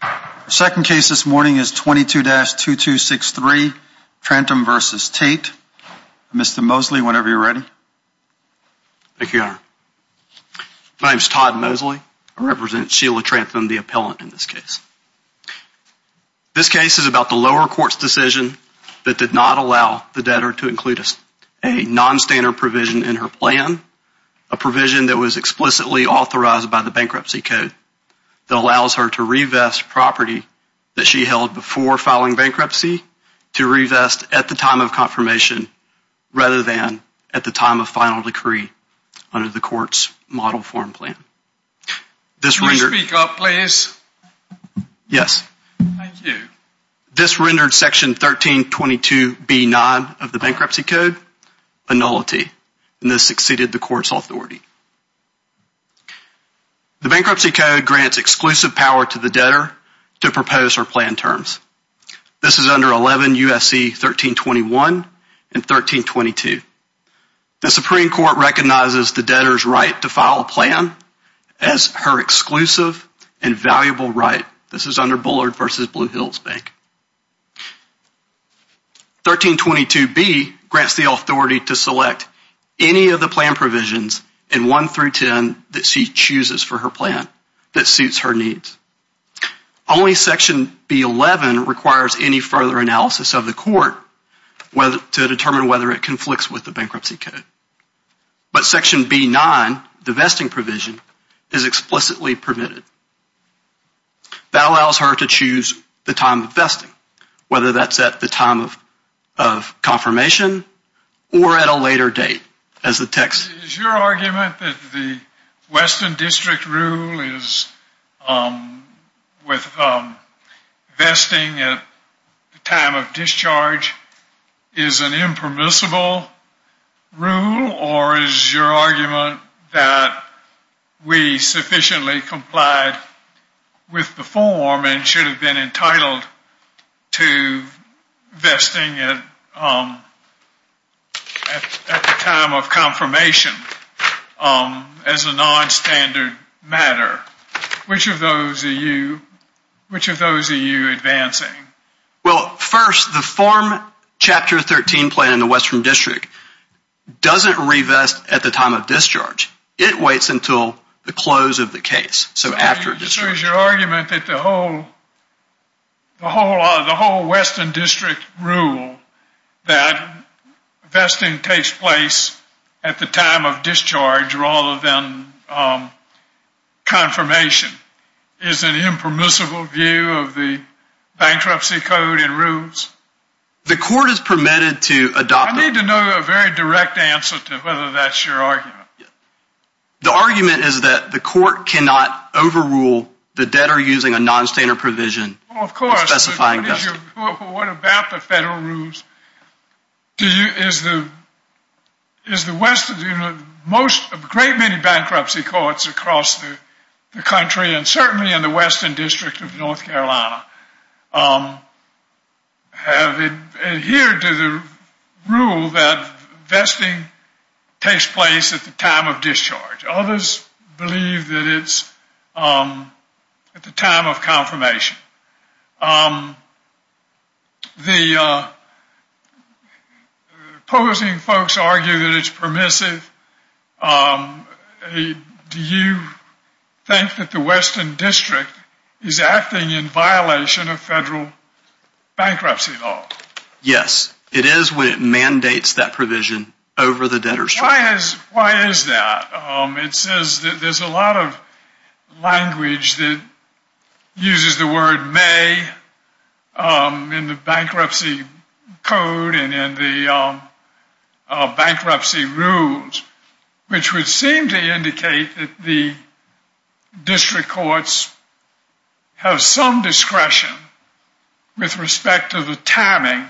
The second case this morning is 22-2263, Trantham v. Tate. Mr. Mosley, whenever you're ready. Thank you, Your Honor. My name is Todd Mosley. I represent Sheila Trantham, the appellant in this case. This case is about the lower court's decision that did not allow the debtor to include a nonstandard provision in her plan, a provision that was explicitly authorized by the Bankruptcy Code that allows her to revest property that she held before filing bankruptcy to revest at the time of confirmation rather than at the time of final decree under the court's model form plan. Can you speak up, please? Yes. Thank you. This rendered Section 1322B-9 of the Bankruptcy Code a nullity, and this exceeded the court's authority. The Bankruptcy Code grants exclusive power to the debtor to propose or plan terms. This is under 11 U.S.C. 1321 and 1322. The Supreme Court recognizes the debtor's right to file a plan as her exclusive and valuable right. This is under Bullard v. Blue Hills Bank. 1322B grants the authority to select any of the plan provisions in 1 through 10 that she chooses for her plan that suits her needs. Only Section B-11 requires any further analysis of the court to determine whether it conflicts with the Bankruptcy Code. But Section B-9, the vesting provision, is explicitly permitted. That allows her to choose the time of vesting, whether that's at the time of confirmation or at a later date. Is your argument that the Western District rule with vesting at the time of discharge is an impermissible rule? Or is your argument that we sufficiently complied with the form and should have been entitled to vesting at the time of confirmation as a nonstandard matter? Which of those are you advancing? Well, first, the form Chapter 13 plan in the Western District doesn't revest at the time of discharge. It waits until the close of the case, so after discharge. So is your argument that the whole Western District rule that vesting takes place at the time of discharge rather than confirmation is an impermissible view of the Bankruptcy Code and rules? I need to know a very direct answer to whether that's your argument. The argument is that the court cannot overrule the debtor using a nonstandard provision. Well, of course, but what about the federal rules? Do you, is the Western, you know, most, a great many bankruptcy courts across the country and certainly in the Western District of North Carolina have adhered to the rule that vesting takes place at the time of discharge. Others believe that it's at the time of confirmation. The opposing folks argue that it's permissive. Do you think that the Western District is acting in violation of federal bankruptcy law? Yes, it is when it mandates that provision over the debtor's term. Why is that? It says that there's a lot of language that uses the word may in the Bankruptcy Code and in the bankruptcy rules, which would seem to indicate that the district courts have some discretion with respect to the timing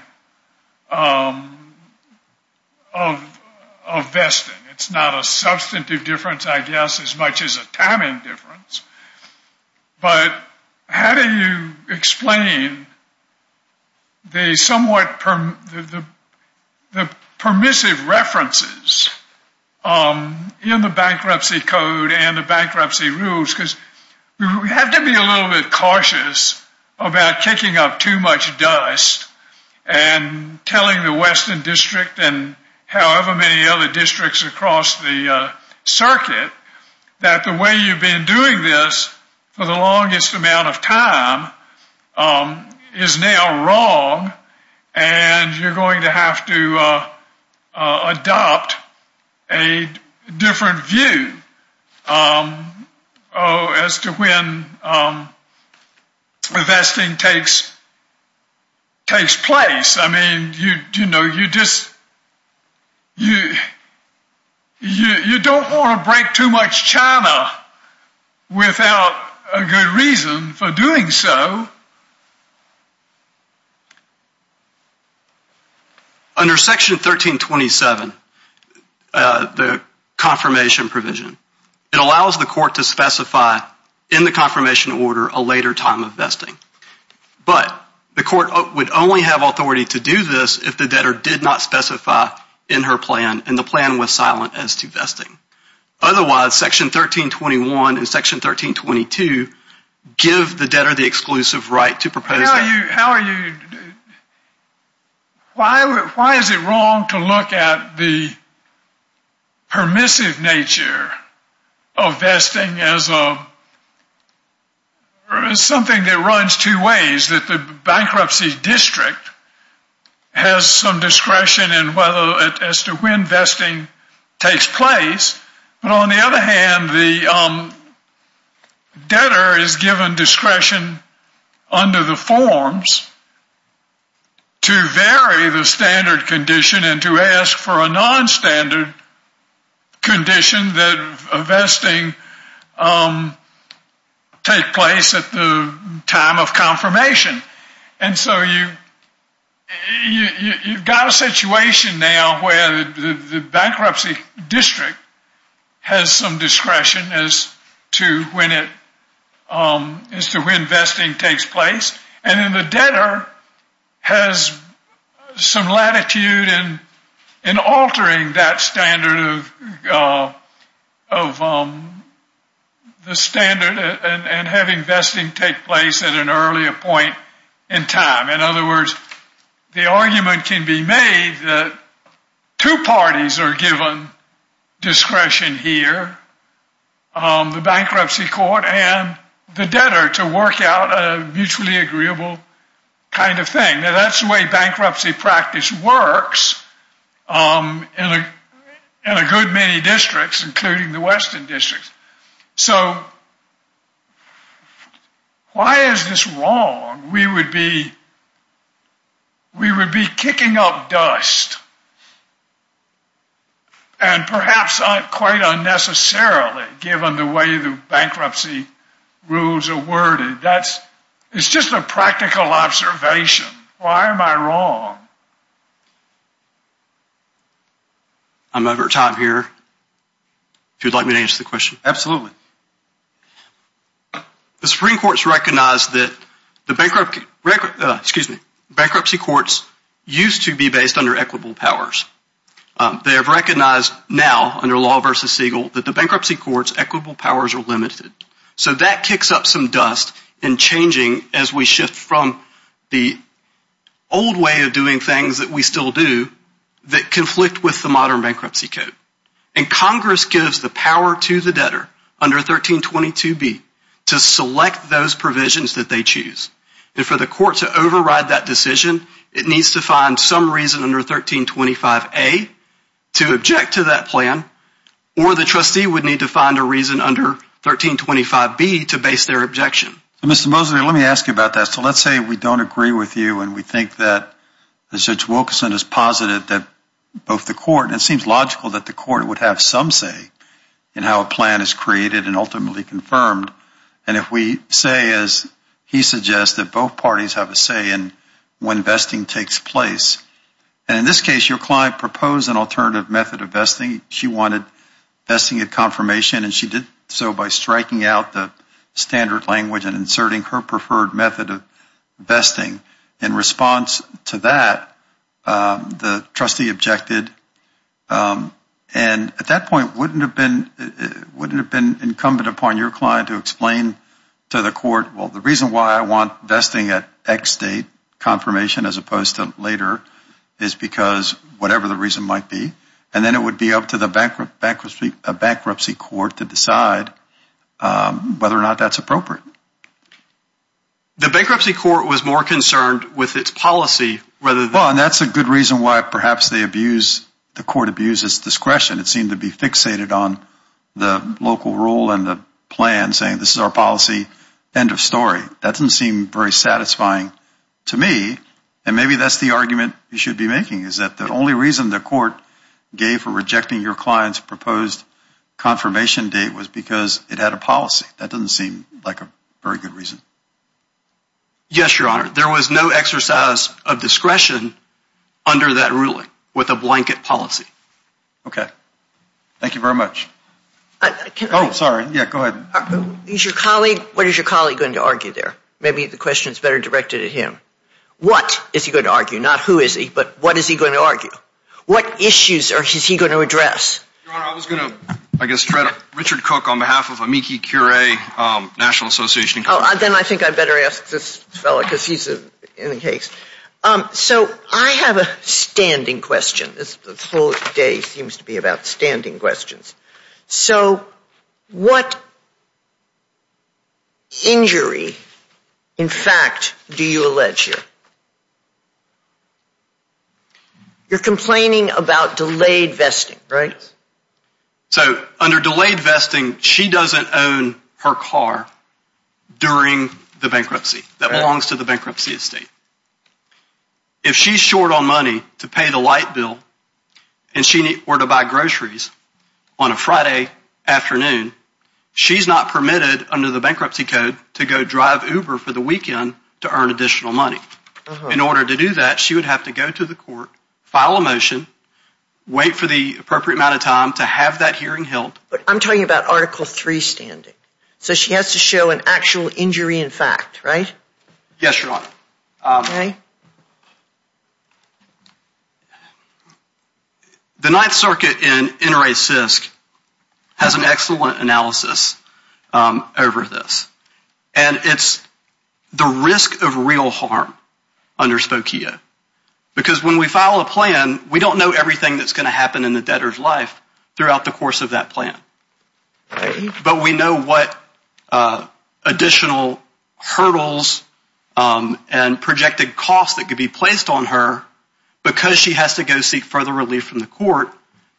of vesting. It's not a substantive difference, I guess, as much as a timing difference. But how do you explain the somewhat, the permissive references in the Bankruptcy Code and the bankruptcy rules? Because we have to be a little bit cautious about kicking up too much dust and telling the Western District and however many other districts across the circuit that the way you've been doing this for the longest amount of time is now wrong and you're going to have to adopt a different view as to when vesting takes place. I mean, you don't want to break too much china without a good reason for doing so. Under Section 1327, the confirmation provision, it allows the court to specify in the confirmation order a later time of vesting. But the court would only have authority to do this if the debtor did not specify in her plan and the plan was silent as to vesting. Otherwise, Section 1321 and Section 1322 give the debtor the exclusive right to propose that. Why is it wrong to look at the permissive nature of vesting as something that runs two ways? That the bankruptcy district has some discretion as to when vesting takes place. But on the other hand, the debtor is given discretion under the forms to vary the standard condition and to ask for a non-standard condition that vesting take place at the time of confirmation. And so you've got a situation now where the bankruptcy district has some discretion as to when vesting takes place and then the debtor has some latitude in altering that standard of the standard and having vesting take place at an earlier point in time. In other words, the argument can be made that two parties are given discretion here, the bankruptcy court and the debtor, to work out a mutually agreeable kind of thing. Now that's the way bankruptcy practice works in a good many districts, including the western districts. So why is this wrong? We would be kicking up dust and perhaps quite unnecessarily given the way the bankruptcy rules are worded. It's just a practical observation. Why am I wrong? I'm over time here. If you'd like me to answer the question. Absolutely. The Supreme Court has recognized that the bankruptcy courts used to be based under equitable powers. They have recognized now under law versus Siegel that the bankruptcy courts' equitable powers are limited. So that kicks up some dust in changing as we shift from the old way of doing things that we still do that conflict with the modern bankruptcy code. And Congress gives the power to the debtor under 1322B to select those provisions that they choose. And for the court to override that decision, it needs to find some reason under 1325A to object to that plan or the trustee would need to find a reason under 1325B to base their objection. Mr. Mosley, let me ask you about that. So let's say we don't agree with you and we think that Judge Wilkerson is positive that both the court and it seems logical that the court would have some say in how a plan is created and ultimately confirmed. And if we say as he suggests that both parties have a say in when vesting takes place, and in this case your client proposed an alternative method of vesting. She wanted vesting at confirmation and she did so by striking out the standard language and inserting her preferred method of vesting. In response to that, the trustee objected. And at that point, wouldn't it have been incumbent upon your client to explain to the court, well, the reason why I want vesting at X date confirmation as opposed to later is because whatever the reason might be. And then it would be up to the bankruptcy court to decide whether or not that's appropriate. The bankruptcy court was more concerned with its policy. Well, and that's a good reason why perhaps the court abuses discretion. It seemed to be fixated on the local rule and the plan saying this is our policy, end of story. That doesn't seem very satisfying to me. And maybe that's the argument you should be making is that the only reason the court gave for rejecting your client's proposed confirmation date was because it had a policy. That doesn't seem like a very good reason. Yes, Your Honor. There was no exercise of discretion under that ruling with a blanket policy. Okay. Thank you very much. Oh, sorry. Yeah, go ahead. What is your colleague going to argue there? Maybe the question is better directed at him. What is he going to argue? Not who is he, but what is he going to argue? What issues is he going to address? Your Honor, I was going to, I guess, tread Richard Cook on behalf of Amici Curie National Association. Oh, then I think I better ask this fellow because he's in the case. So I have a standing question. This whole day seems to be about standing questions. So what injury, in fact, do you allege here? You're complaining about delayed vesting, right? So under delayed vesting, she doesn't own her car during the bankruptcy that belongs to the bankruptcy estate. If she's short on money to pay the light bill or to buy groceries on a Friday afternoon, she's not permitted under the bankruptcy code to go drive Uber for the weekend to earn additional money. In order to do that, she would have to go to the court, file a motion, wait for the appropriate amount of time to have that hearing held. I'm talking about Article 3 standing. So she has to show an actual injury in fact, right? Yes, Your Honor. The Ninth Circuit in NRA CISC has an excellent analysis over this. And it's the risk of real harm under Spokio. Because when we file a plan, we don't know everything that's going to happen in the debtor's life throughout the course of that plan. But we know what additional hurdles and projected costs that could be placed on her because she has to go seek further relief from the court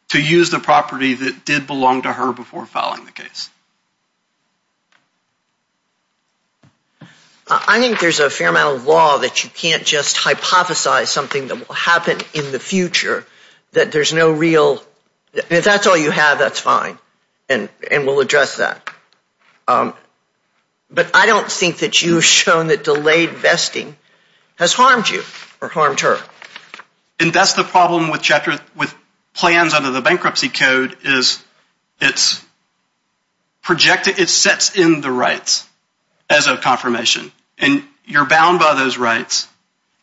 to use the property that did belong to her before filing the case. I think there's a fair amount of law that you can't just hypothesize something that will happen in the future. If that's all you have, that's fine. And we'll address that. But I don't think that you've shown that delayed vesting has harmed you or harmed her. And that's the problem with plans under the bankruptcy code is it's projected, it sets in the rights as a confirmation. And you're bound by those rights.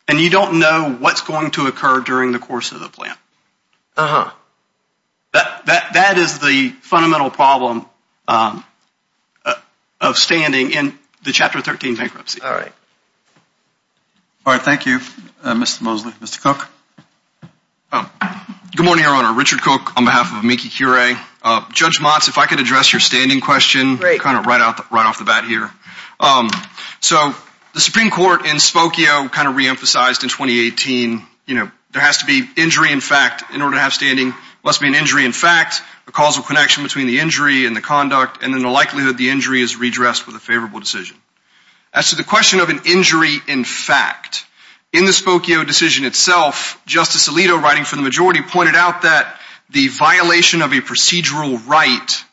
And you don't know what's going to occur during the course of the plan. That is the fundamental problem of standing in the Chapter 13 bankruptcy. All right. All right. Thank you, Mr. Mosley. Mr. Cook. Good morning, Your Honor. Richard Cook on behalf of Amici Curie. Judge Motz, if I could address your standing question. Great. Kind of right off the bat here. So the Supreme Court in Spokio kind of reemphasized in 2018, you know, there has to be injury in fact in order to have standing. There must be an injury in fact, a causal connection between the injury and the conduct, and then the likelihood the injury is redressed with a favorable decision. As to the question of an injury in fact, in the Spokio decision itself, Justice Alito, writing for the majority, pointed out that the violation of a procedural right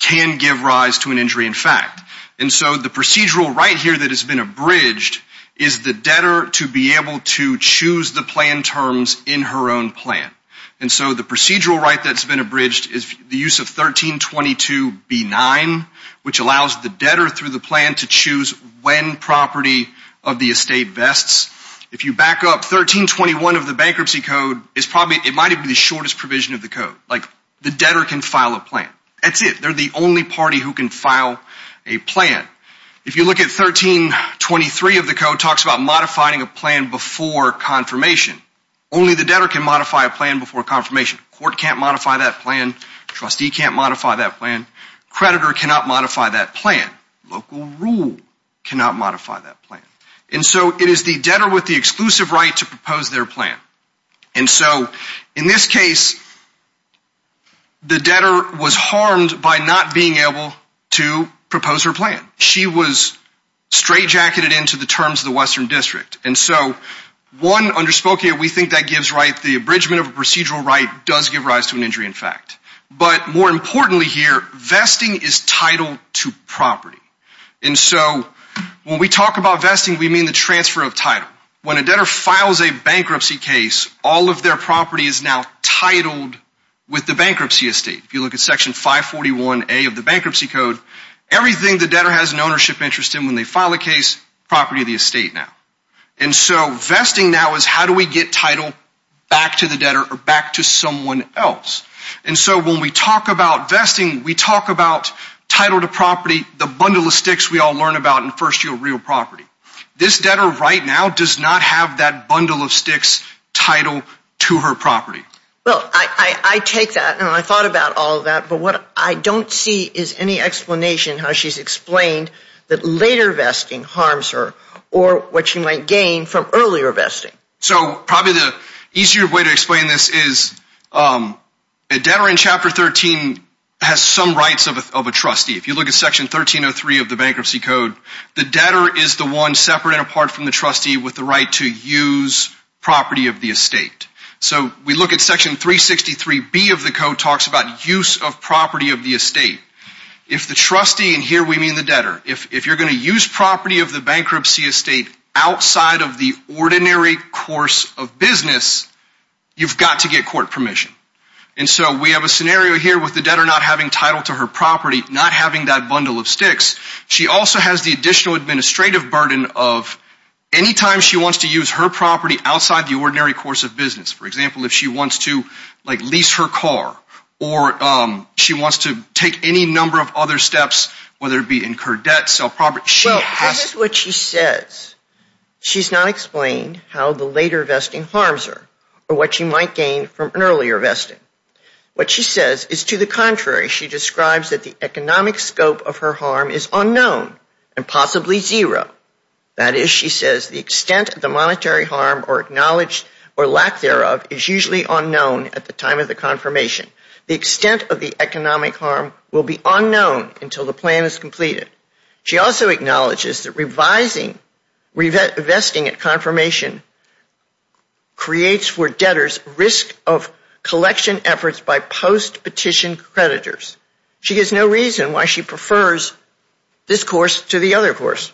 can give rise to an injury in fact. And so the procedural right here that has been abridged is the debtor to be able to choose the plan terms in her own plan. And so the procedural right that's been abridged is the use of 1322B9, which allows the debtor through the plan to choose when property of the estate vests. If you back up 1321 of the bankruptcy code, it might be the shortest provision of the code. Like the debtor can file a plan. That's it. They're the only party who can file a plan. If you look at 1323 of the code, it talks about modifying a plan before confirmation. Only the debtor can modify a plan before confirmation. Court can't modify that plan. Trustee can't modify that plan. Creditor cannot modify that plan. Local rule cannot modify that plan. And so it is the debtor with the exclusive right to propose their plan. And so in this case, the debtor was harmed by not being able to propose her plan. She was straightjacketed into the terms of the Western District. And so one underspoke here, we think that gives right, the abridgment of a procedural right does give rise to an injury in fact. But more importantly here, vesting is title to property. And so when we talk about vesting, we mean the transfer of title. When a debtor files a bankruptcy case, all of their property is now titled with the bankruptcy estate. If you look at Section 541A of the bankruptcy code, everything the debtor has an ownership interest in when they file a case, property of the estate now. And so vesting now is how do we get title back to the debtor or back to someone else. And so when we talk about vesting, we talk about title to property, the bundle of sticks we all learn about in First Yield Real Property. This debtor right now does not have that bundle of sticks title to her property. Well, I take that and I thought about all of that, but what I don't see is any explanation how she's explained that later vesting harms her or what she might gain from earlier vesting. So probably the easier way to explain this is a debtor in Chapter 13 has some rights of a trustee. If you look at Section 1303 of the bankruptcy code, the debtor is the one separate and apart from the trustee with the right to use property of the estate. So we look at Section 363B of the code talks about use of property of the estate. If the trustee, and here we mean the debtor, if you're going to use property of the bankruptcy estate outside of the ordinary course of business, you've got to get court permission. And so we have a scenario here with the debtor not having title to her property, not having that bundle of sticks. She also has the additional administrative burden of any time she wants to use her property outside the ordinary course of business. For example, if she wants to lease her car or she wants to take any number of other steps, whether it be incurred debt, sell property. Well, that is what she says. She's not explained how the later vesting harms her or what she might gain from an earlier vesting. What she says is to the contrary. She describes that the economic scope of her harm is unknown and possibly zero. That is, she says, the extent of the monetary harm or acknowledged or lack thereof is usually unknown at the time of the confirmation. The extent of the economic harm will be unknown until the plan is completed. She also acknowledges that revising, vesting at confirmation creates for debtors risk of collection efforts by post-petition creditors. She gives no reason why she prefers this course to the other course.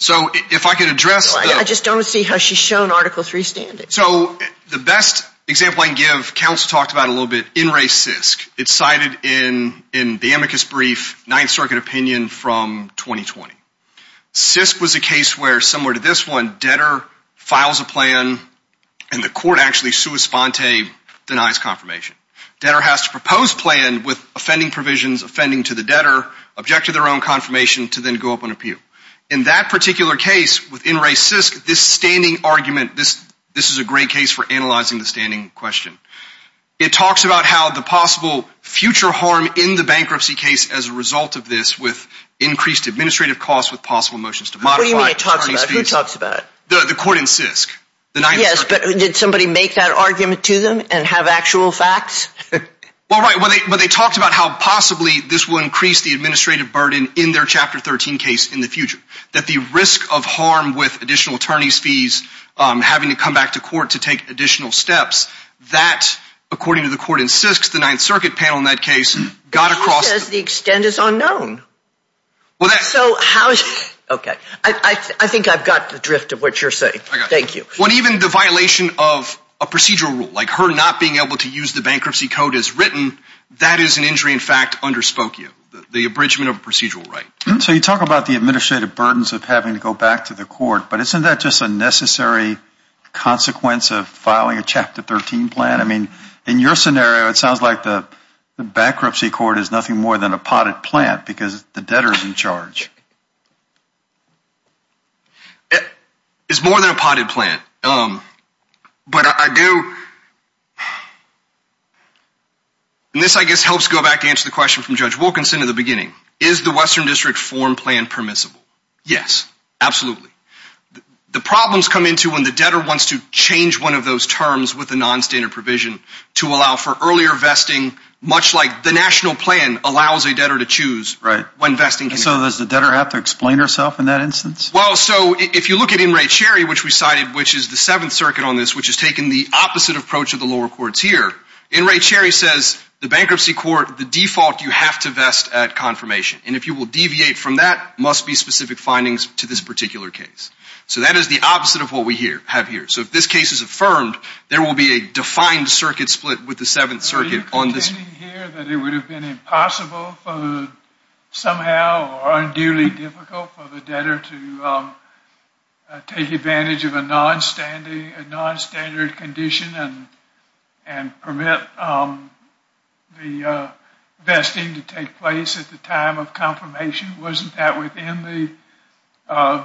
So if I could address the – I just don't see how she's shown Article III standing. So the best example I can give, counsel talked about it a little bit, in racist. It's cited in the amicus brief, Ninth Circuit opinion from 2020. CISC was a case where, similar to this one, debtor files a plan and the court actually sua sponte denies confirmation. Debtor has to propose plan with offending provisions, offending to the debtor, object to their own confirmation to then go up on appeal. In that particular case, within racist, this standing argument, this is a great case for analyzing the standing question. It talks about how the possible future harm in the bankruptcy case as a result of this with increased administrative costs with possible motions to modify. What do you mean it talks about? Who talks about it? The court in CISC. Yes, but did somebody make that argument to them and have actual facts? Well, right, but they talked about how possibly this will increase the administrative burden in their Chapter 13 case in the future. That the risk of harm with additional attorney's fees, having to come back to court to take additional steps, that, according to the court in CISC, the Ninth Circuit panel in that case, got across. But he says the extent is unknown. Well, that's. So how, okay, I think I've got the drift of what you're saying. I got it. Thank you. Well, even the violation of a procedural rule, like her not being able to use the bankruptcy code as written, that is an injury in fact underspoke you, the abridgment of a procedural right. So you talk about the administrative burdens of having to go back to the court, but isn't that just a necessary consequence of filing a Chapter 13 plan? I mean, in your scenario, it sounds like the bankruptcy court is nothing more than a potted plant because the debtor is in charge. It's more than a potted plant, but I do. And this, I guess, helps go back to answer the question from Judge Wilkinson in the beginning. Is the Western District form plan permissible? Yes, absolutely. The problems come into when the debtor wants to change one of those terms with a nonstandard provision to allow for earlier vesting, much like the national plan allows a debtor to choose when vesting. So does the debtor have to explain herself in that instance? Well, so if you look at In re Cherry, which we cited, which is the Seventh Circuit on this, which has taken the opposite approach of the lower courts here, In re Cherry says the bankruptcy court, the default you have to vest at confirmation. And if you will deviate from that, must be specific findings to this particular case. So that is the opposite of what we have here. So if this case is affirmed, there will be a defined circuit split with the Seventh Circuit on this. So you're suggesting here that it would have been impossible somehow or unduly difficult for the debtor to take advantage of a nonstandard condition and permit the vesting to take place at the time of confirmation? Wasn't that within the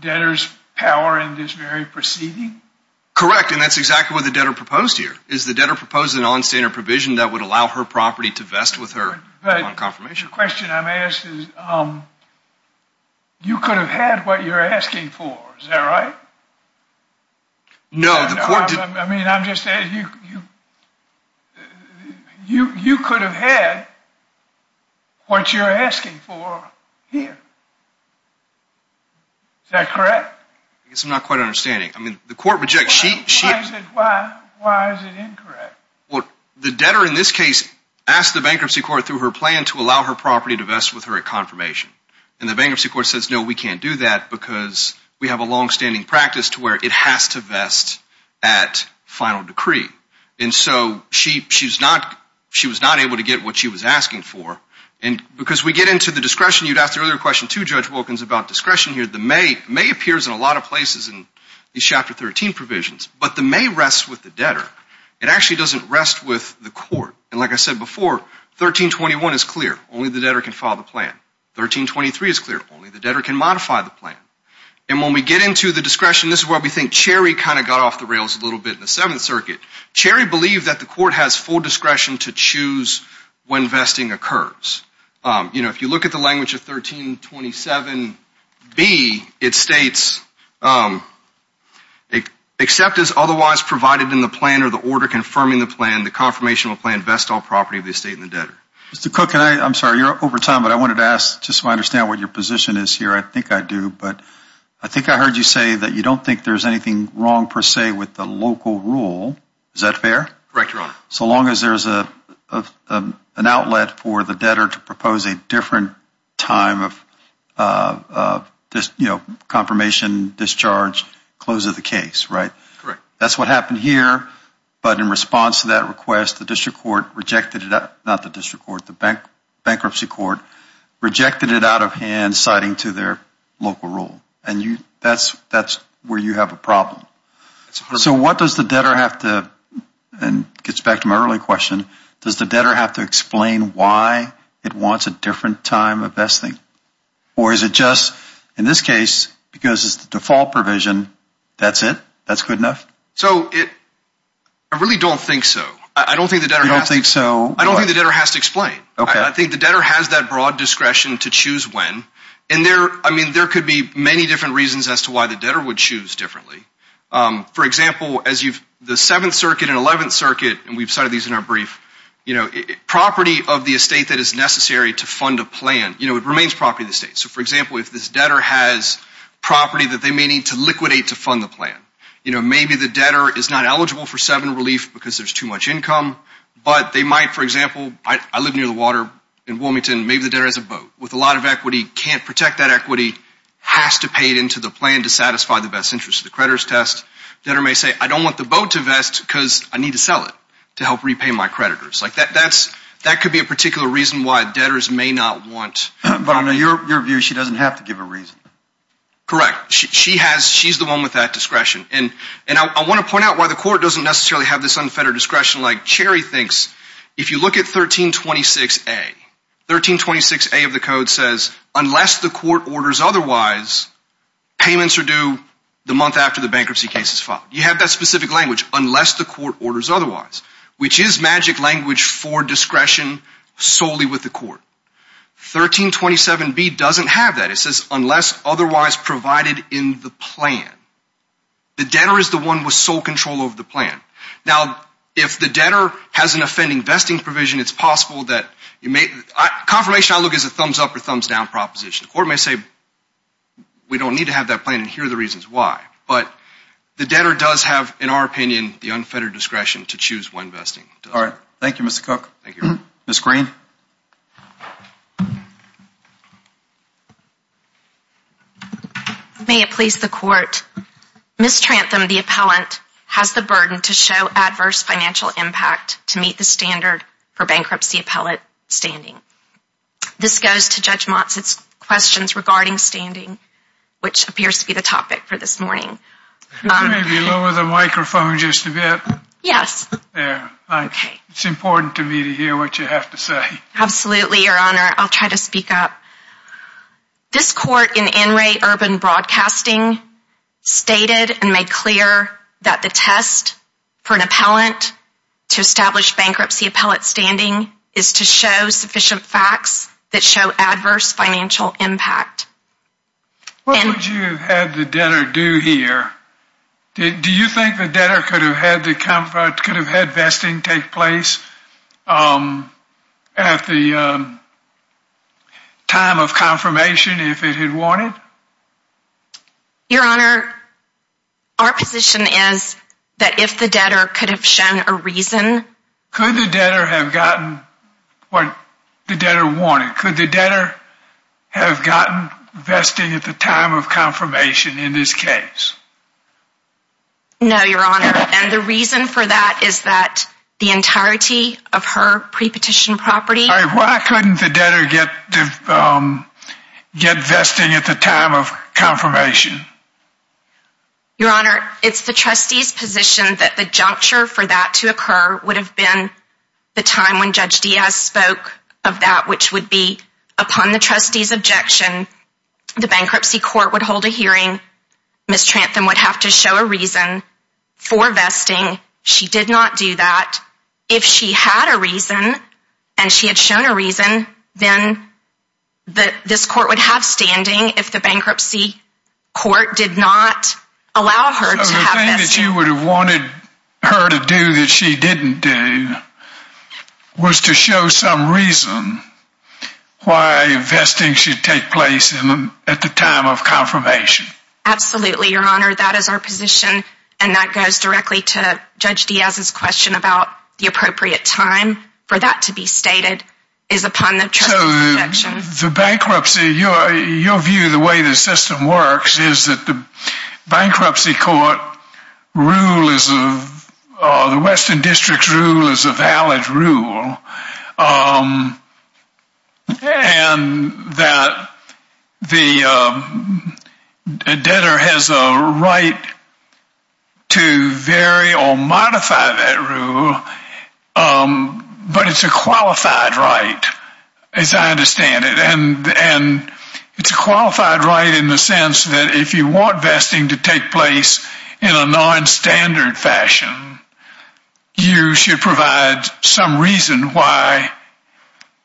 debtor's power in this very proceeding? Correct. And that's exactly what the debtor proposed here. Is the debtor proposing a nonstandard provision that would allow her property to vest with her on confirmation? The question I'm asked is you could have had what you're asking for. Is that right? No. I mean, I'm just saying you could have had what you're asking for here. Is that correct? I guess I'm not quite understanding. I mean, the court rejects. Why is it incorrect? Well, the debtor in this case asked the bankruptcy court through her plan to allow her property to vest with her at confirmation. And the bankruptcy court says, no, we can't do that because we have a longstanding practice to where it has to vest at final decree. And so she was not able to get what she was asking for. And because we get into the discretion, you'd ask the earlier question to Judge Wilkins about discretion here. The may appears in a lot of places in these Chapter 13 provisions. But the may rests with the debtor. It actually doesn't rest with the court. And like I said before, 1321 is clear. Only the debtor can file the plan. 1323 is clear. Only the debtor can modify the plan. And when we get into the discretion, this is where we think Cherry kind of got off the rails a little bit in the Seventh Circuit. Cherry believed that the court has full discretion to choose when vesting occurs. You know, if you look at the language of 1327B, it states, except as otherwise provided in the plan or the order confirming the plan, the confirmation of the plan vests all property of the estate and the debtor. Mr. Cook, I'm sorry. You're up over time. But I wanted to ask just so I understand what your position is here. I think I do. But I think I heard you say that you don't think there's anything wrong per se with the local rule. Is that fair? Correct, Your Honor. So long as there's an outlet for the debtor to propose a different time of, you know, confirmation, discharge, close of the case, right? Correct. That's what happened here. But in response to that request, the district court rejected it, not the district court, the bankruptcy court rejected it out of hand citing to their local rule. And that's where you have a problem. So what does the debtor have to, and it gets back to my earlier question, does the debtor have to explain why it wants a different time of vesting? Or is it just, in this case, because it's the default provision, that's it? That's good enough? So I really don't think so. You don't think so? I don't think the debtor has to explain. I think the debtor has that broad discretion to choose when. And there could be many different reasons as to why the debtor would choose differently. For example, the Seventh Circuit and Eleventh Circuit, and we've cited these in our brief, property of the estate that is necessary to fund a plan, it remains property of the estate. So for example, if this debtor has property that they may need to liquidate to fund the plan. Maybe the debtor is not eligible for seven relief because there's too much income. But they might, for example, I live near the water in Wilmington. Maybe the debtor has a boat with a lot of equity, can't protect that equity, has to pay it into the plan to satisfy the best interest of the creditors test. The debtor may say, I don't want the boat to vest because I need to sell it to help repay my creditors. That could be a particular reason why debtors may not want. But in your view, she doesn't have to give a reason. Correct. She's the one with that discretion. And I want to point out why the court doesn't necessarily have this unfettered discretion. Like Cherry thinks, if you look at 1326A, 1326A of the code says, unless the court orders otherwise, payments are due the month after the bankruptcy case is filed. You have that specific language, unless the court orders otherwise, which is magic language for discretion solely with the court. 1327B doesn't have that. It says, unless otherwise provided in the plan. The debtor is the one with sole control over the plan. Now, if the debtor has an offending vesting provision, it's possible that confirmation outlook is a thumbs up or thumbs down proposition. The court may say, we don't need to have that plan, and here are the reasons why. But the debtor does have, in our opinion, the unfettered discretion to choose when vesting. All right. Thank you, Mr. Cook. Thank you. Ms. Green. May it please the court. Ms. Trantham, the appellant, has the burden to show adverse financial impact to meet the standard for bankruptcy appellate standing. This goes to Judge Monson's questions regarding standing, which appears to be the topic for this morning. Could you lower the microphone just a bit? Yes. It's important to me to hear what you have to say. Absolutely, Your Honor. I'll try to speak up. This court in NRA Urban Broadcasting stated and made clear that the test for an appellant to establish bankruptcy appellate standing is to show sufficient facts that show adverse financial impact. What would you have the debtor do here? Do you think the debtor could have had vesting take place at the time of confirmation if it had wanted? Your Honor, our position is that if the debtor could have shown a reason. Could the debtor have gotten what the debtor wanted? Could the debtor have gotten vesting at the time of confirmation in this case? No, Your Honor. And the reason for that is that the entirety of her pre-petition property. Why couldn't the debtor get vesting at the time of confirmation? Your Honor, it's the trustee's position that the juncture for that to occur would have been the time when Judge Diaz spoke of that, which would be upon the trustee's objection. The bankruptcy court would hold a hearing. Ms. Trantham would have to show a reason for vesting. She did not do that. If she had a reason, and she had shown a reason, then this court would have standing if the bankruptcy court did not allow her to have vesting. So the thing that you would have wanted her to do that she didn't do was to show some reason why vesting should take place at the time of confirmation. Absolutely, Your Honor. That is our position. And that goes directly to Judge Diaz's question about the appropriate time for that to be stated is upon the trustee's objection. So the bankruptcy, your view of the way the system works is that the bankruptcy court rule is, the Western District's rule is a valid rule. And that the debtor has a right to vary or modify that rule, but it's a qualified right, as I understand it. And it's a qualified right in the sense that if you want vesting to take place in a non-standard fashion, you should provide some reason why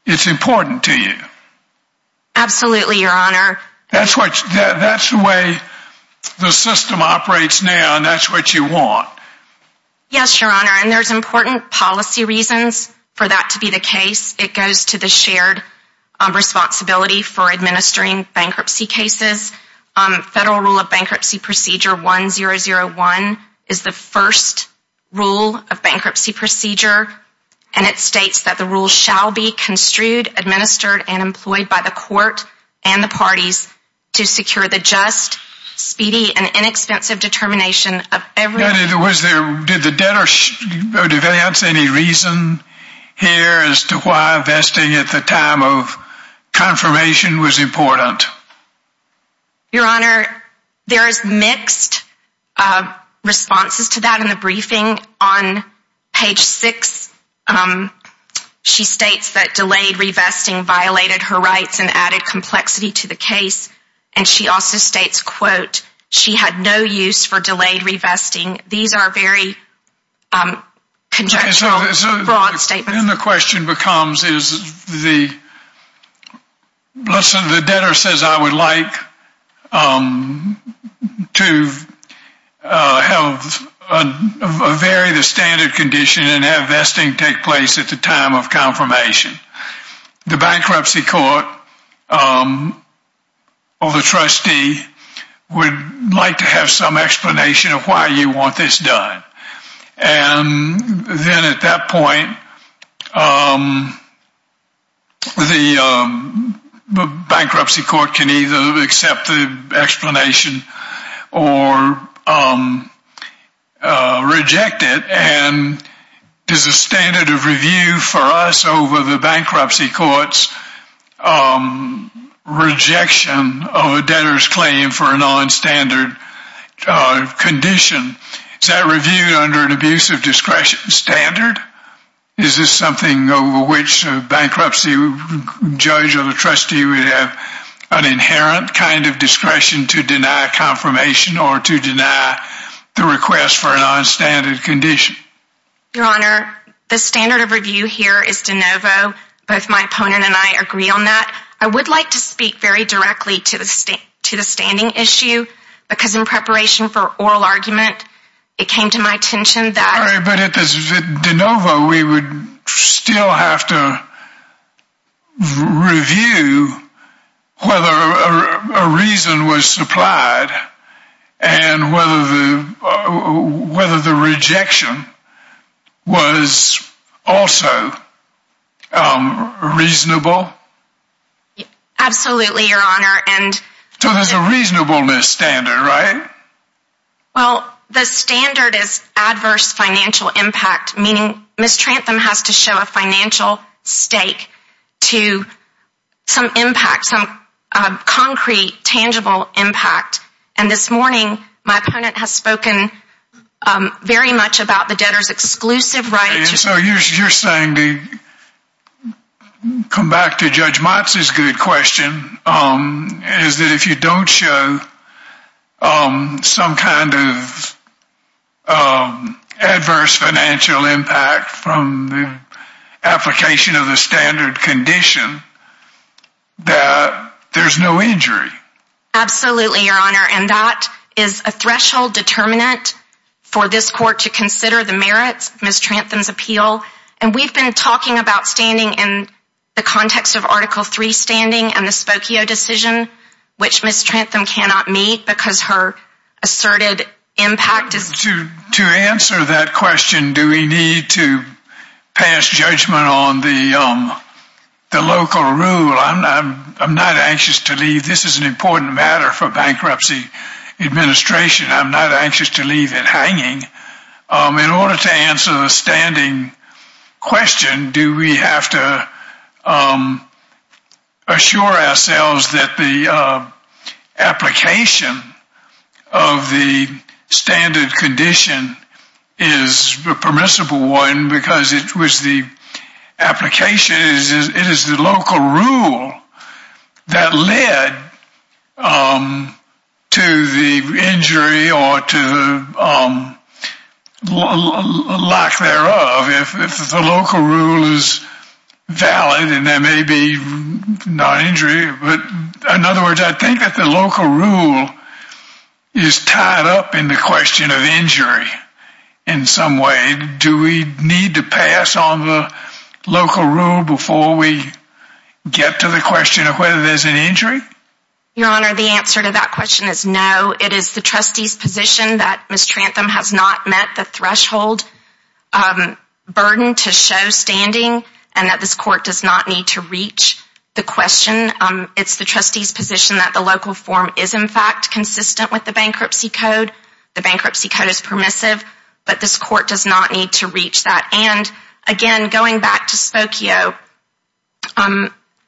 it's important to you. Absolutely, Your Honor. That's the way the system operates now, and that's what you want. Yes, Your Honor. And there's important policy reasons for that to be the case. It goes to the shared responsibility for administering bankruptcy cases. Federal Rule of Bankruptcy Procedure 1001 is the first rule of bankruptcy procedure. And it states that the rule shall be construed, administered, and employed by the court and the parties to secure the just, speedy, and inexpensive determination of every... Did the debtor deviance any reason here as to why vesting at the time of confirmation was important? Your Honor, there's mixed responses to that in the briefing. On page 6, she states that delayed revesting violated her rights and added complexity to the case. And she also states, quote, she had no use for delayed revesting. These are very conjectural, broad statements. And the question becomes, the debtor says, I would like to vary the standard condition and have vesting take place at the time of confirmation. The bankruptcy court or the trustee would like to have some explanation of why you want this done. And then at that point, the bankruptcy court can either accept the explanation or reject it. And there's a standard of review for us over the bankruptcy court's rejection of a debtor's claim for a nonstandard condition. Is that reviewed under an abusive discretion standard? Is this something over which a bankruptcy judge or the trustee would have an inherent kind of discretion to deny confirmation or to deny the request for a nonstandard condition? Your Honor, the standard of review here is de novo. Both my opponent and I agree on that. I would like to speak very directly to the standing issue because in preparation for oral argument, it came to my attention that... Sorry, but at de novo, we would still have to review whether a reason was supplied and whether the rejection was also reasonable. Absolutely, Your Honor. So there's a reasonableness standard, right? Well, the standard is adverse financial impact, meaning Ms. Trantham has to show a financial stake to some impact, some concrete, tangible impact. And this morning, my opponent has spoken very much about the debtor's exclusive right to... So you're saying, to come back to Judge Motz's good question, is that if you don't show some kind of adverse financial impact from the application of the standard condition, that there's no injury? Absolutely, Your Honor. And that is a threshold determinant for this court to consider the merits of Ms. Trantham's appeal. And we've been talking about standing in the context of Article III standing and the Spokio decision, which Ms. Trantham cannot meet because her asserted impact is... To answer that question, do we need to pass judgment on the local rule? I'm not anxious to leave. This is an important matter for bankruptcy administration. I'm not anxious to leave it hanging. In order to answer the standing question, do we have to assure ourselves that the application of the standard condition is permissible? One, because it was the application, it is the local rule that led to the injury or to lack thereof. If the local rule is valid and there may be non-injury, but in other words, I think that the local rule is tied up in the question of injury in some way. Do we need to pass on the local rule before we get to the question of whether there's an injury? Your Honor, the answer to that question is no. It is the trustee's position that Ms. Trantham has not met the threshold burden to show standing and that this court does not need to reach the question. It's the trustee's position that the local form is in fact consistent with the bankruptcy code. The bankruptcy code is permissive, but this court does not need to reach that. Again, going back to Spokio,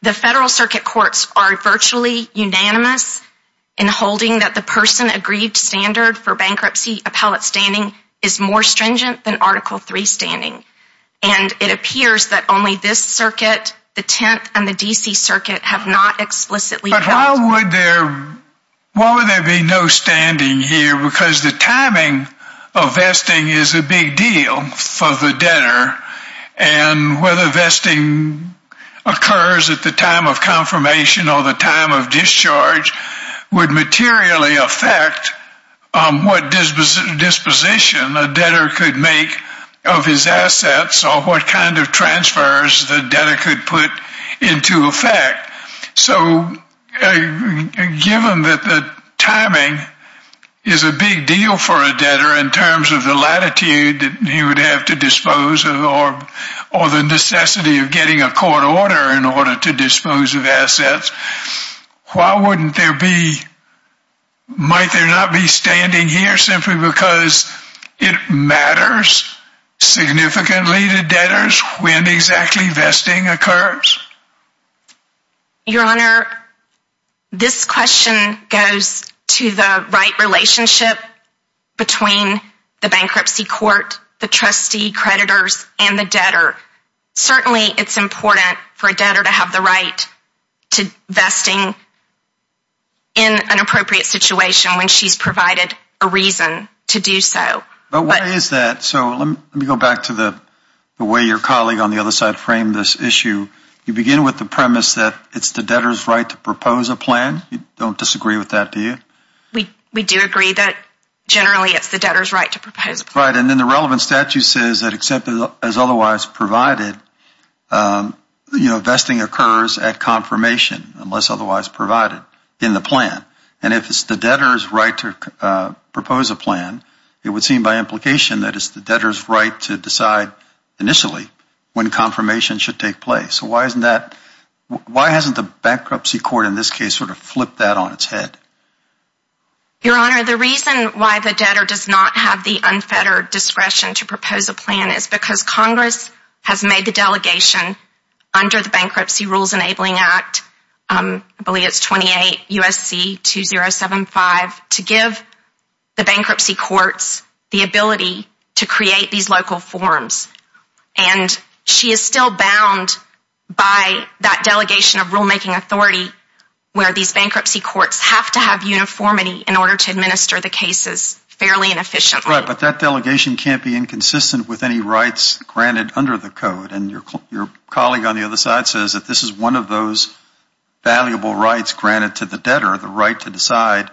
the Federal Circuit Courts are virtually unanimous in holding that the person agreed standard for bankruptcy appellate standing is more stringent than Article III standing. It appears that only this circuit, the Tenth, and the D.C. Circuit have not explicitly... But why would there be no standing here? Because the timing of vesting is a big deal for the debtor, and whether vesting occurs at the time of confirmation or the time of discharge would materially affect what disposition a debtor could make of his assets or what kind of transfers the debtor could put into effect. So, given that the timing is a big deal for a debtor in terms of the latitude that he would have to dispose of or the necessity of getting a court order in order to dispose of assets, why wouldn't there be... Simply because it matters significantly to debtors when exactly vesting occurs? Your Honor, this question goes to the right relationship between the bankruptcy court, the trustee, creditors, and the debtor. Certainly, it's important for a debtor to have the right to vesting in an appropriate situation when she's provided a reason to do so. But why is that? So, let me go back to the way your colleague on the other side framed this issue. You begin with the premise that it's the debtor's right to propose a plan. You don't disagree with that, do you? We do agree that generally it's the debtor's right to propose a plan. So, you're saying by implication that it's the debtor's right to decide initially when confirmation should take place. So, why hasn't the bankruptcy court in this case sort of flipped that on its head? Your Honor, the reason why the debtor does not have the unfettered discretion to propose a plan is because Congress has made the delegation under the Bankruptcy Rules Enabling Act, I believe it's 28 U.S.C. 2075, to give the bankruptcy courts the ability to create these local forms. And she is still bound by that delegation of rulemaking authority where these bankruptcy courts have to have uniformity in order to administer the cases fairly and efficiently. Right, but that delegation can't be inconsistent with any rights granted under the code. And your colleague on the other side says that this is one of those valuable rights granted to the debtor, the right to decide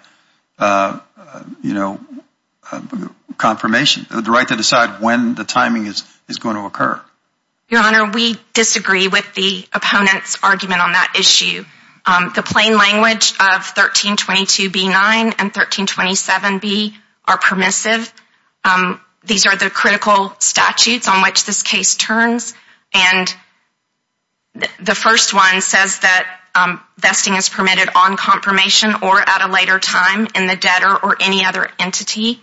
confirmation, the right to decide when the timing is going to occur. Your Honor, we disagree with the opponent's argument on that issue. The plain language of 1322B9 and 1327B are permissive. These are the critical statutes on which this case turns. And the first one says that vesting is permitted on confirmation or at a later time in the debtor or any other entity.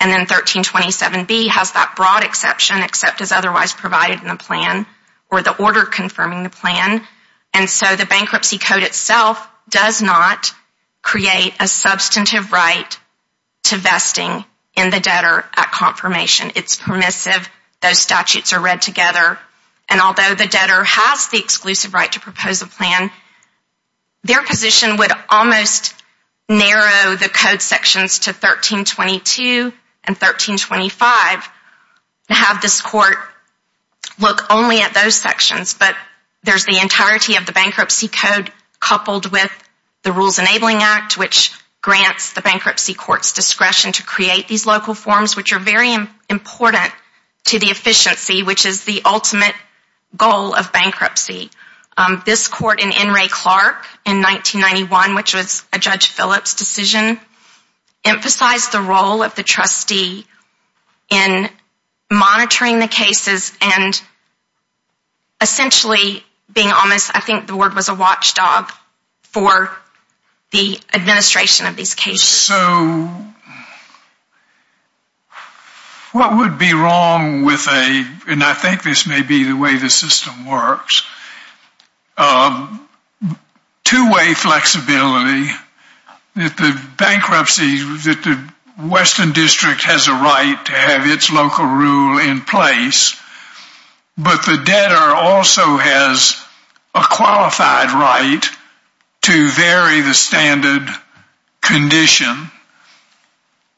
And then 1327B has that broad exception except as otherwise provided in the plan or the order confirming the plan. And so the bankruptcy code itself does not create a substantive right to vesting in the debtor at confirmation. It's permissive. Those statutes are read together. And although the debtor has the exclusive right to propose a plan, their position would almost narrow the code sections to 1322 and 1325 to have this court look only at those sections. But there's the entirety of the bankruptcy code coupled with the Rules Enabling Act, which grants the bankruptcy court's discretion to create these local forms, which are very important to the efficiency, which is the ultimate goal of bankruptcy. This court in N. Ray Clark in 1991, which was a Judge Phillips decision, emphasized the role of the trustee in monitoring the cases and essentially being almost, I think the word was a watchdog, for the administration of these cases. So what would be wrong with a, and I think this may be the way the system works, two-way flexibility that the bankruptcy, that the Western District has a right to have its local rule in place, but the debtor also has a qualified right to vary the standard condition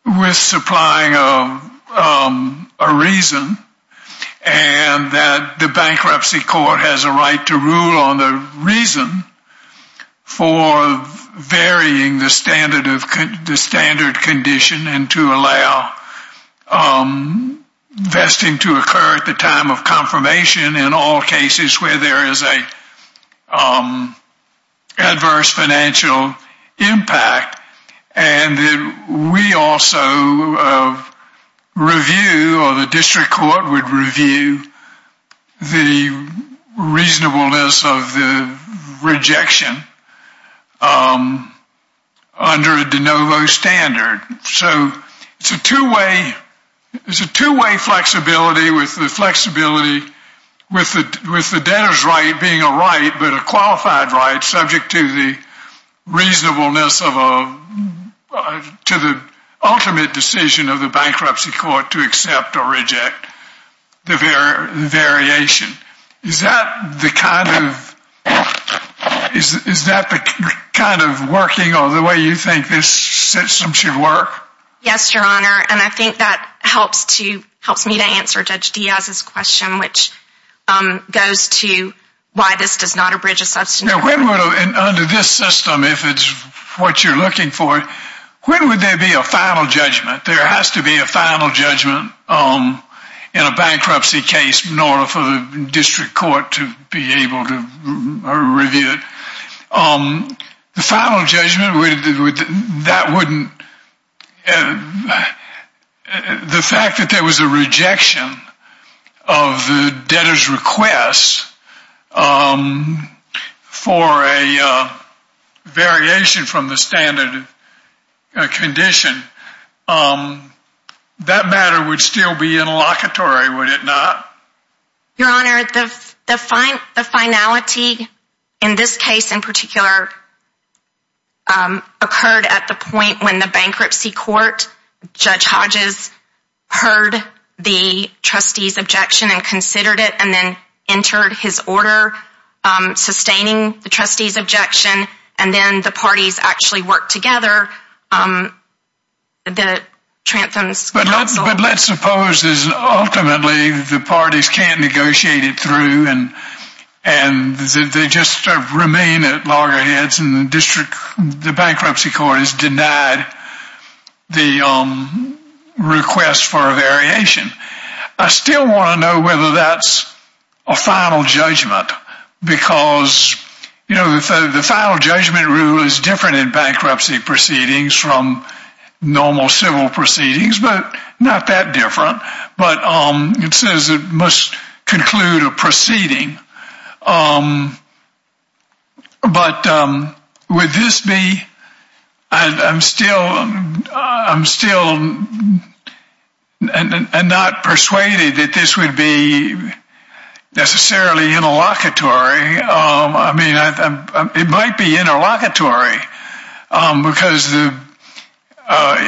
with supplying a reason and that the bankruptcy court has a right to rule on the reason for varying the standard condition and to allow vesting to occur at the time of confirmation in all cases where there is an adverse financial impact. And we also review, or the district court would review, the reasonableness of the rejection under a de novo standard. So it's a two-way flexibility with the debtor's right being a right but a qualified right subject to the reasonableness of a, to the ultimate decision of the bankruptcy court to accept or reject the variation. Is that the kind of, is that the kind of working or the way you think this system should work? Yes, Your Honor, and I think that helps to, helps me to answer Judge Diaz's question, which goes to why this does not abridge a substantive requirement. Under this system, if it's what you're looking for, when would there be a final judgment? There has to be a final judgment in a bankruptcy case in order for the district court to be able to review it. The final judgment, that wouldn't, the fact that there was a rejection of the debtor's request for a variation from the standard condition, that matter would still be interlocutory, would it not? Your Honor, the finality in this case in particular occurred at the point when the bankruptcy court, Judge Hodges, heard the trustee's objection and considered it and then entered his order sustaining the trustee's objection and then the parties actually worked together, the Trantham's counsel. But let's suppose ultimately the parties can't negotiate it through and they just remain at loggerheads and the bankruptcy court has denied the request for a variation. I still want to know whether that's a final judgment because, you know, the final judgment rule is different in bankruptcy proceedings from normal civil proceedings, but not that different. But it says it must conclude a proceeding. But would this be, I'm still not persuaded that this would be necessarily interlocutory. I mean, it might be interlocutory because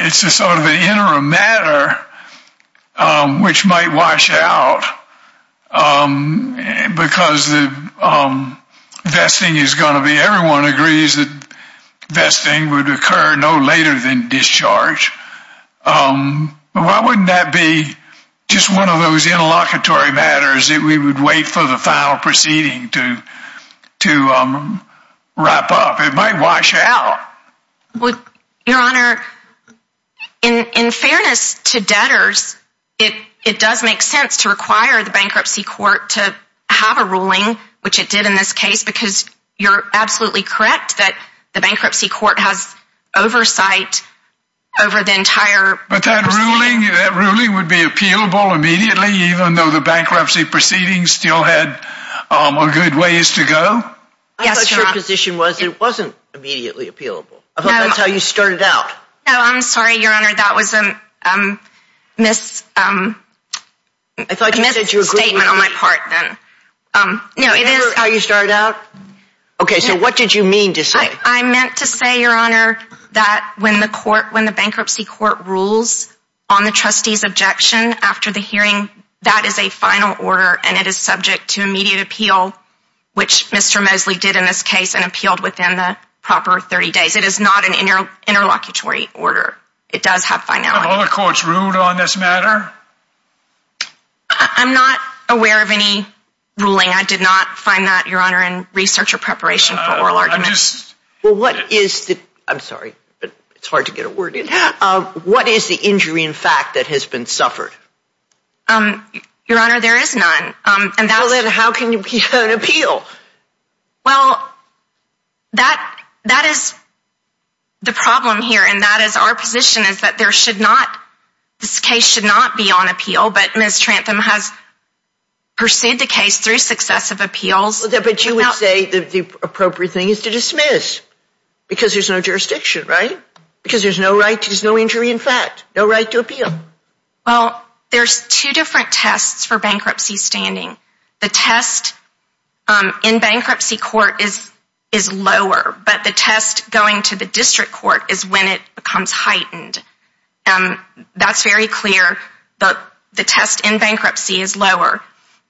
it's a sort of an interim matter which might wash out because the vesting is going to be, everyone agrees that vesting would occur no later than discharge. Why wouldn't that be just one of those interlocutory matters that we would wait for the final proceeding to wrap up? It might wash out. Your Honor, in fairness to debtors, it does make sense to require the bankruptcy court to have a ruling, which it did in this case because you're absolutely correct that the bankruptcy court has oversight over the entire proceeding. But that ruling would be appealable immediately even though the bankruptcy proceedings still had a good ways to go? Yes, Your Honor. I thought your position was it wasn't immediately appealable. I thought that's how you started out. No, I'm sorry, Your Honor, that was a misstatement on my part then. Is that how you started out? Okay, so what did you mean to say? I meant to say, Your Honor, that when the bankruptcy court rules on the trustee's objection after the hearing, that is a final order and it is subject to immediate appeal, which Mr. Mosley did in this case and appealed within the proper 30 days. It is not an interlocutory order. It does have finality. Are all the courts rude on this matter? I'm not aware of any ruling. I did not find that, Your Honor, in research or preparation for oral arguments. Well, what is the – I'm sorry, it's hard to get a word in – what is the injury in fact that has been suffered? Your Honor, there is none. Well, then how can you be on appeal? Well, that is the problem here and that is our position is that there should not – this case should not be on appeal, but Ms. Trantham has pursued the case through successive appeals. But you would say the appropriate thing is to dismiss because there's no jurisdiction, right? Because there's no right – there's no injury in fact, no right to appeal. Well, there's two different tests for bankruptcy standing. The test in bankruptcy court is lower, but the test going to the district court is when it becomes heightened. That's very clear, but the test in bankruptcy is lower.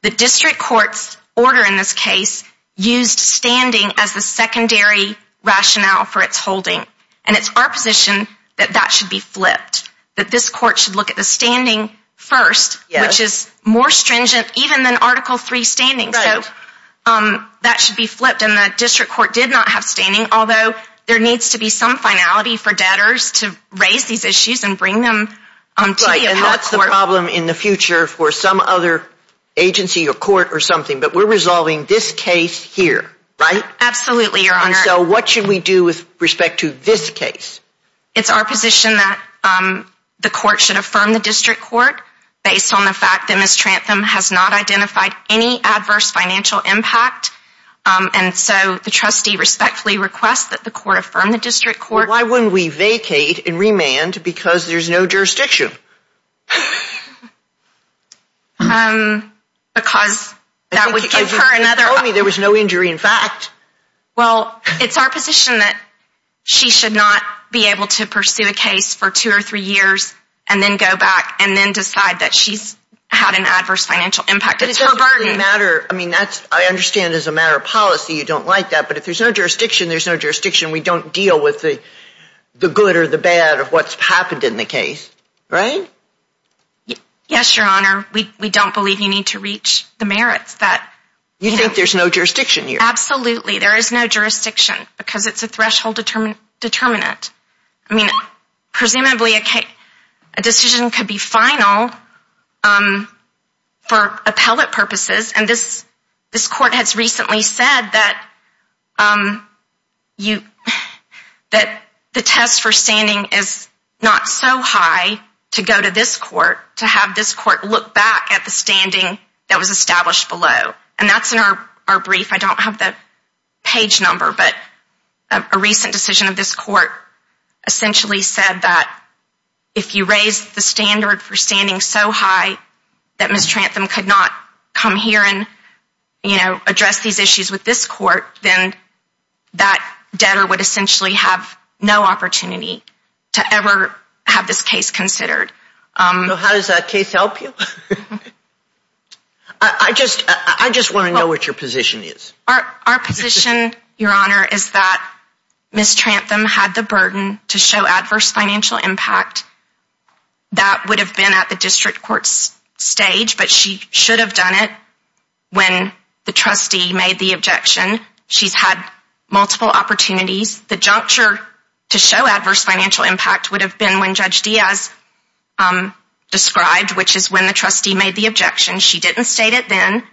The district court's order in this case used standing as the secondary rationale for its holding, and it's our position that that should be flipped, that this court should look at the standing first, which is more stringent even than Article III standing. So that should be flipped, and the district court did not have standing, although there needs to be some finality for debtors to raise these issues and bring them to the appellate court. Right, and that's the problem in the future for some other agency or court or something, but we're resolving this case here, right? Absolutely, Your Honor. And so what should we do with respect to this case? It's our position that the court should affirm the district court, based on the fact that Ms. Trantham has not identified any adverse financial impact, and so the trustee respectfully requests that the court affirm the district court. Why wouldn't we vacate and remand because there's no jurisdiction? Because that would give her another opportunity. You told me there was no injury in fact. Well, it's our position that she should not be able to pursue a case for two or three years and then go back and then decide that she's had an adverse financial impact. It's her burden. I mean, I understand as a matter of policy you don't like that, but if there's no jurisdiction, there's no jurisdiction. We don't deal with the good or the bad of what's happened in the case, right? Yes, Your Honor. We don't believe you need to reach the merits. You think there's no jurisdiction here? Absolutely. There is no jurisdiction because it's a threshold determinant. I mean, presumably a decision could be final for appellate purposes, and this court has recently said that the test for standing is not so high to go to this court, to have this court look back at the standing that was established below, and that's in our brief. I don't have the page number, but a recent decision of this court essentially said that if you raise the standard for standing so high that Ms. Trantham could not come here and address these issues with this court, then that debtor would essentially have no opportunity to ever have this case considered. So how does that case help you? I just want to know what your position is. Our position, Your Honor, is that Ms. Trantham had the burden to show adverse financial impact. That would have been at the district court's stage, but she should have done it when the trustee made the objection. She's had multiple opportunities. The juncture to show adverse financial impact would have been when Judge Diaz described, which is when the trustee made the objection. She didn't state it then.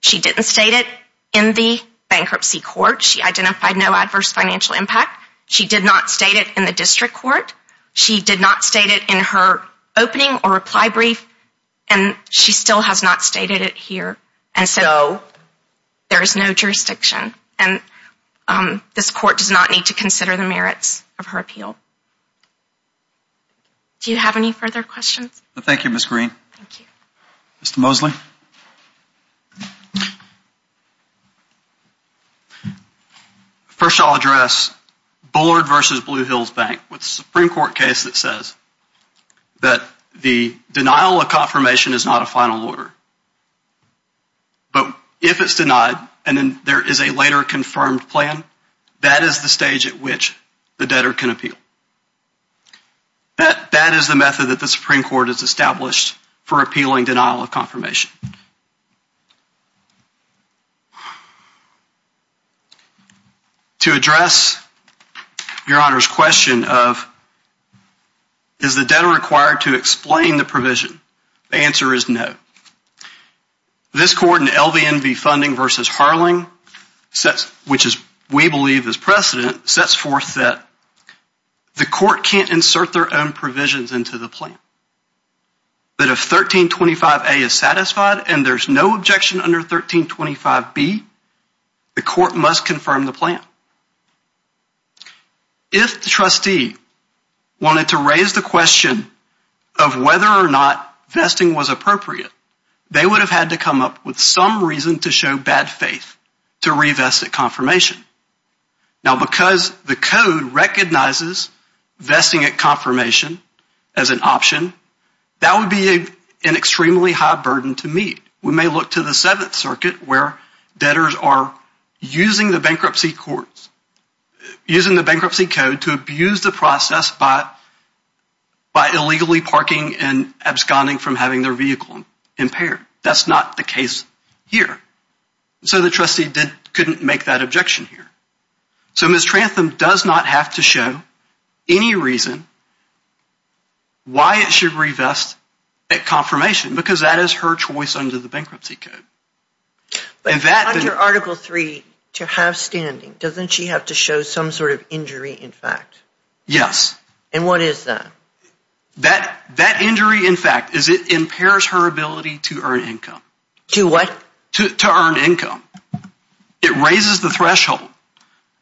She didn't state it in the bankruptcy court. She identified no adverse financial impact. She did not state it in the district court. She did not state it in her opening or reply brief, and she still has not stated it here, and so there is no jurisdiction, and this court does not need to consider the merits of her appeal. Do you have any further questions? Thank you, Ms. Green. Mr. Mosley? First, I'll address Bullard v. Blue Hills Bank with the Supreme Court case that says that the denial of confirmation is not a final order, but if it's denied and then there is a later confirmed plan, that is the stage at which the debtor can appeal. That is the method that the Supreme Court has established for appealing denial of confirmation. To address Your Honor's question of is the debtor required to explain the provision, the answer is no. This court in LVNV Funding v. Harling, which we believe is precedent, sets forth that the court can't insert their own provisions into the plan, that if 1325A is satisfied and there's no objection under 1325B, the court must confirm the plan. If the trustee wanted to raise the question of whether or not vesting was appropriate, they would have had to come up with some reason to show bad faith to re-vest at confirmation. Now, because the code recognizes vesting at confirmation as an option, that would be an extremely high burden to meet. We may look to the Seventh Circuit where debtors are using the bankruptcy code to abuse the process by illegally parking and absconding from having their vehicle impaired. That's not the case here. So the trustee couldn't make that objection here. So Ms. Trantham does not have to show any reason why it should re-vest at confirmation because that is her choice under the bankruptcy code. But under Article III, to have standing, doesn't she have to show some sort of injury in fact? Yes. And what is that? That injury in fact impairs her ability to earn income. To what? To earn income. It raises the threshold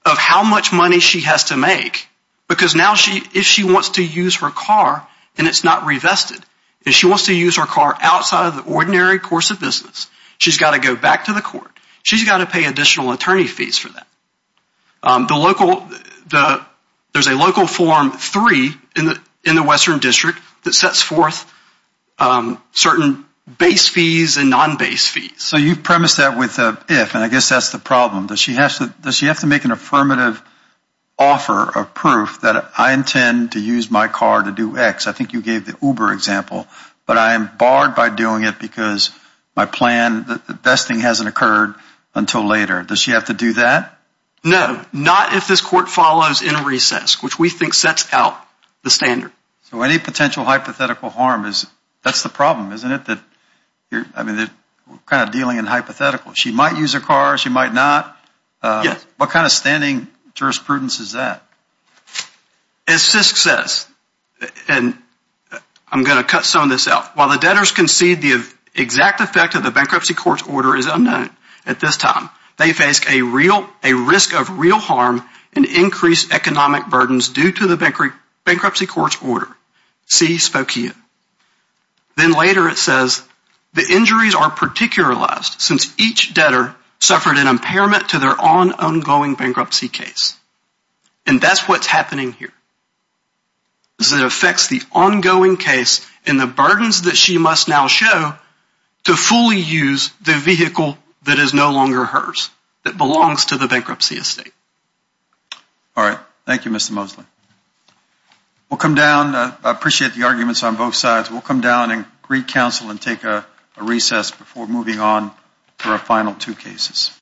of how much money she has to make because now if she wants to use her car and it's not re-vested, if she wants to use her car outside of the ordinary course of business, she's got to go back to the court. She's got to pay additional attorney fees for that. There's a local Form III in the Western District that sets forth certain base fees and non-base fees. So you premise that with an if and I guess that's the problem. Does she have to make an affirmative offer of proof that I intend to use my car to do X? I think you gave the Uber example. But I am barred by doing it because my plan, the vesting hasn't occurred until later. Does she have to do that? No. Not if this court follows in recess, which we think sets out the standard. So any potential hypothetical harm, that's the problem, isn't it? I mean we're kind of dealing in hypotheticals. She might use her car, she might not. Yes. What kind of standing jurisprudence is that? As CISC says, and I'm going to cut some of this out, while the debtors concede the exact effect of the bankruptcy court's order is unknown at this time, they face a risk of real harm and increased economic burdens due to the bankruptcy court's order. C spoke here. Then later it says the injuries are particularized since each debtor suffered an impairment to their ongoing bankruptcy case. And that's what's happening here. It affects the ongoing case and the burdens that she must now show to fully use the vehicle that is no longer hers, that belongs to the bankruptcy estate. All right. Thank you, Mr. Mosley. We'll come down. I appreciate the arguments on both sides. We'll come down and re-counsel and take a recess before moving on to our final two cases.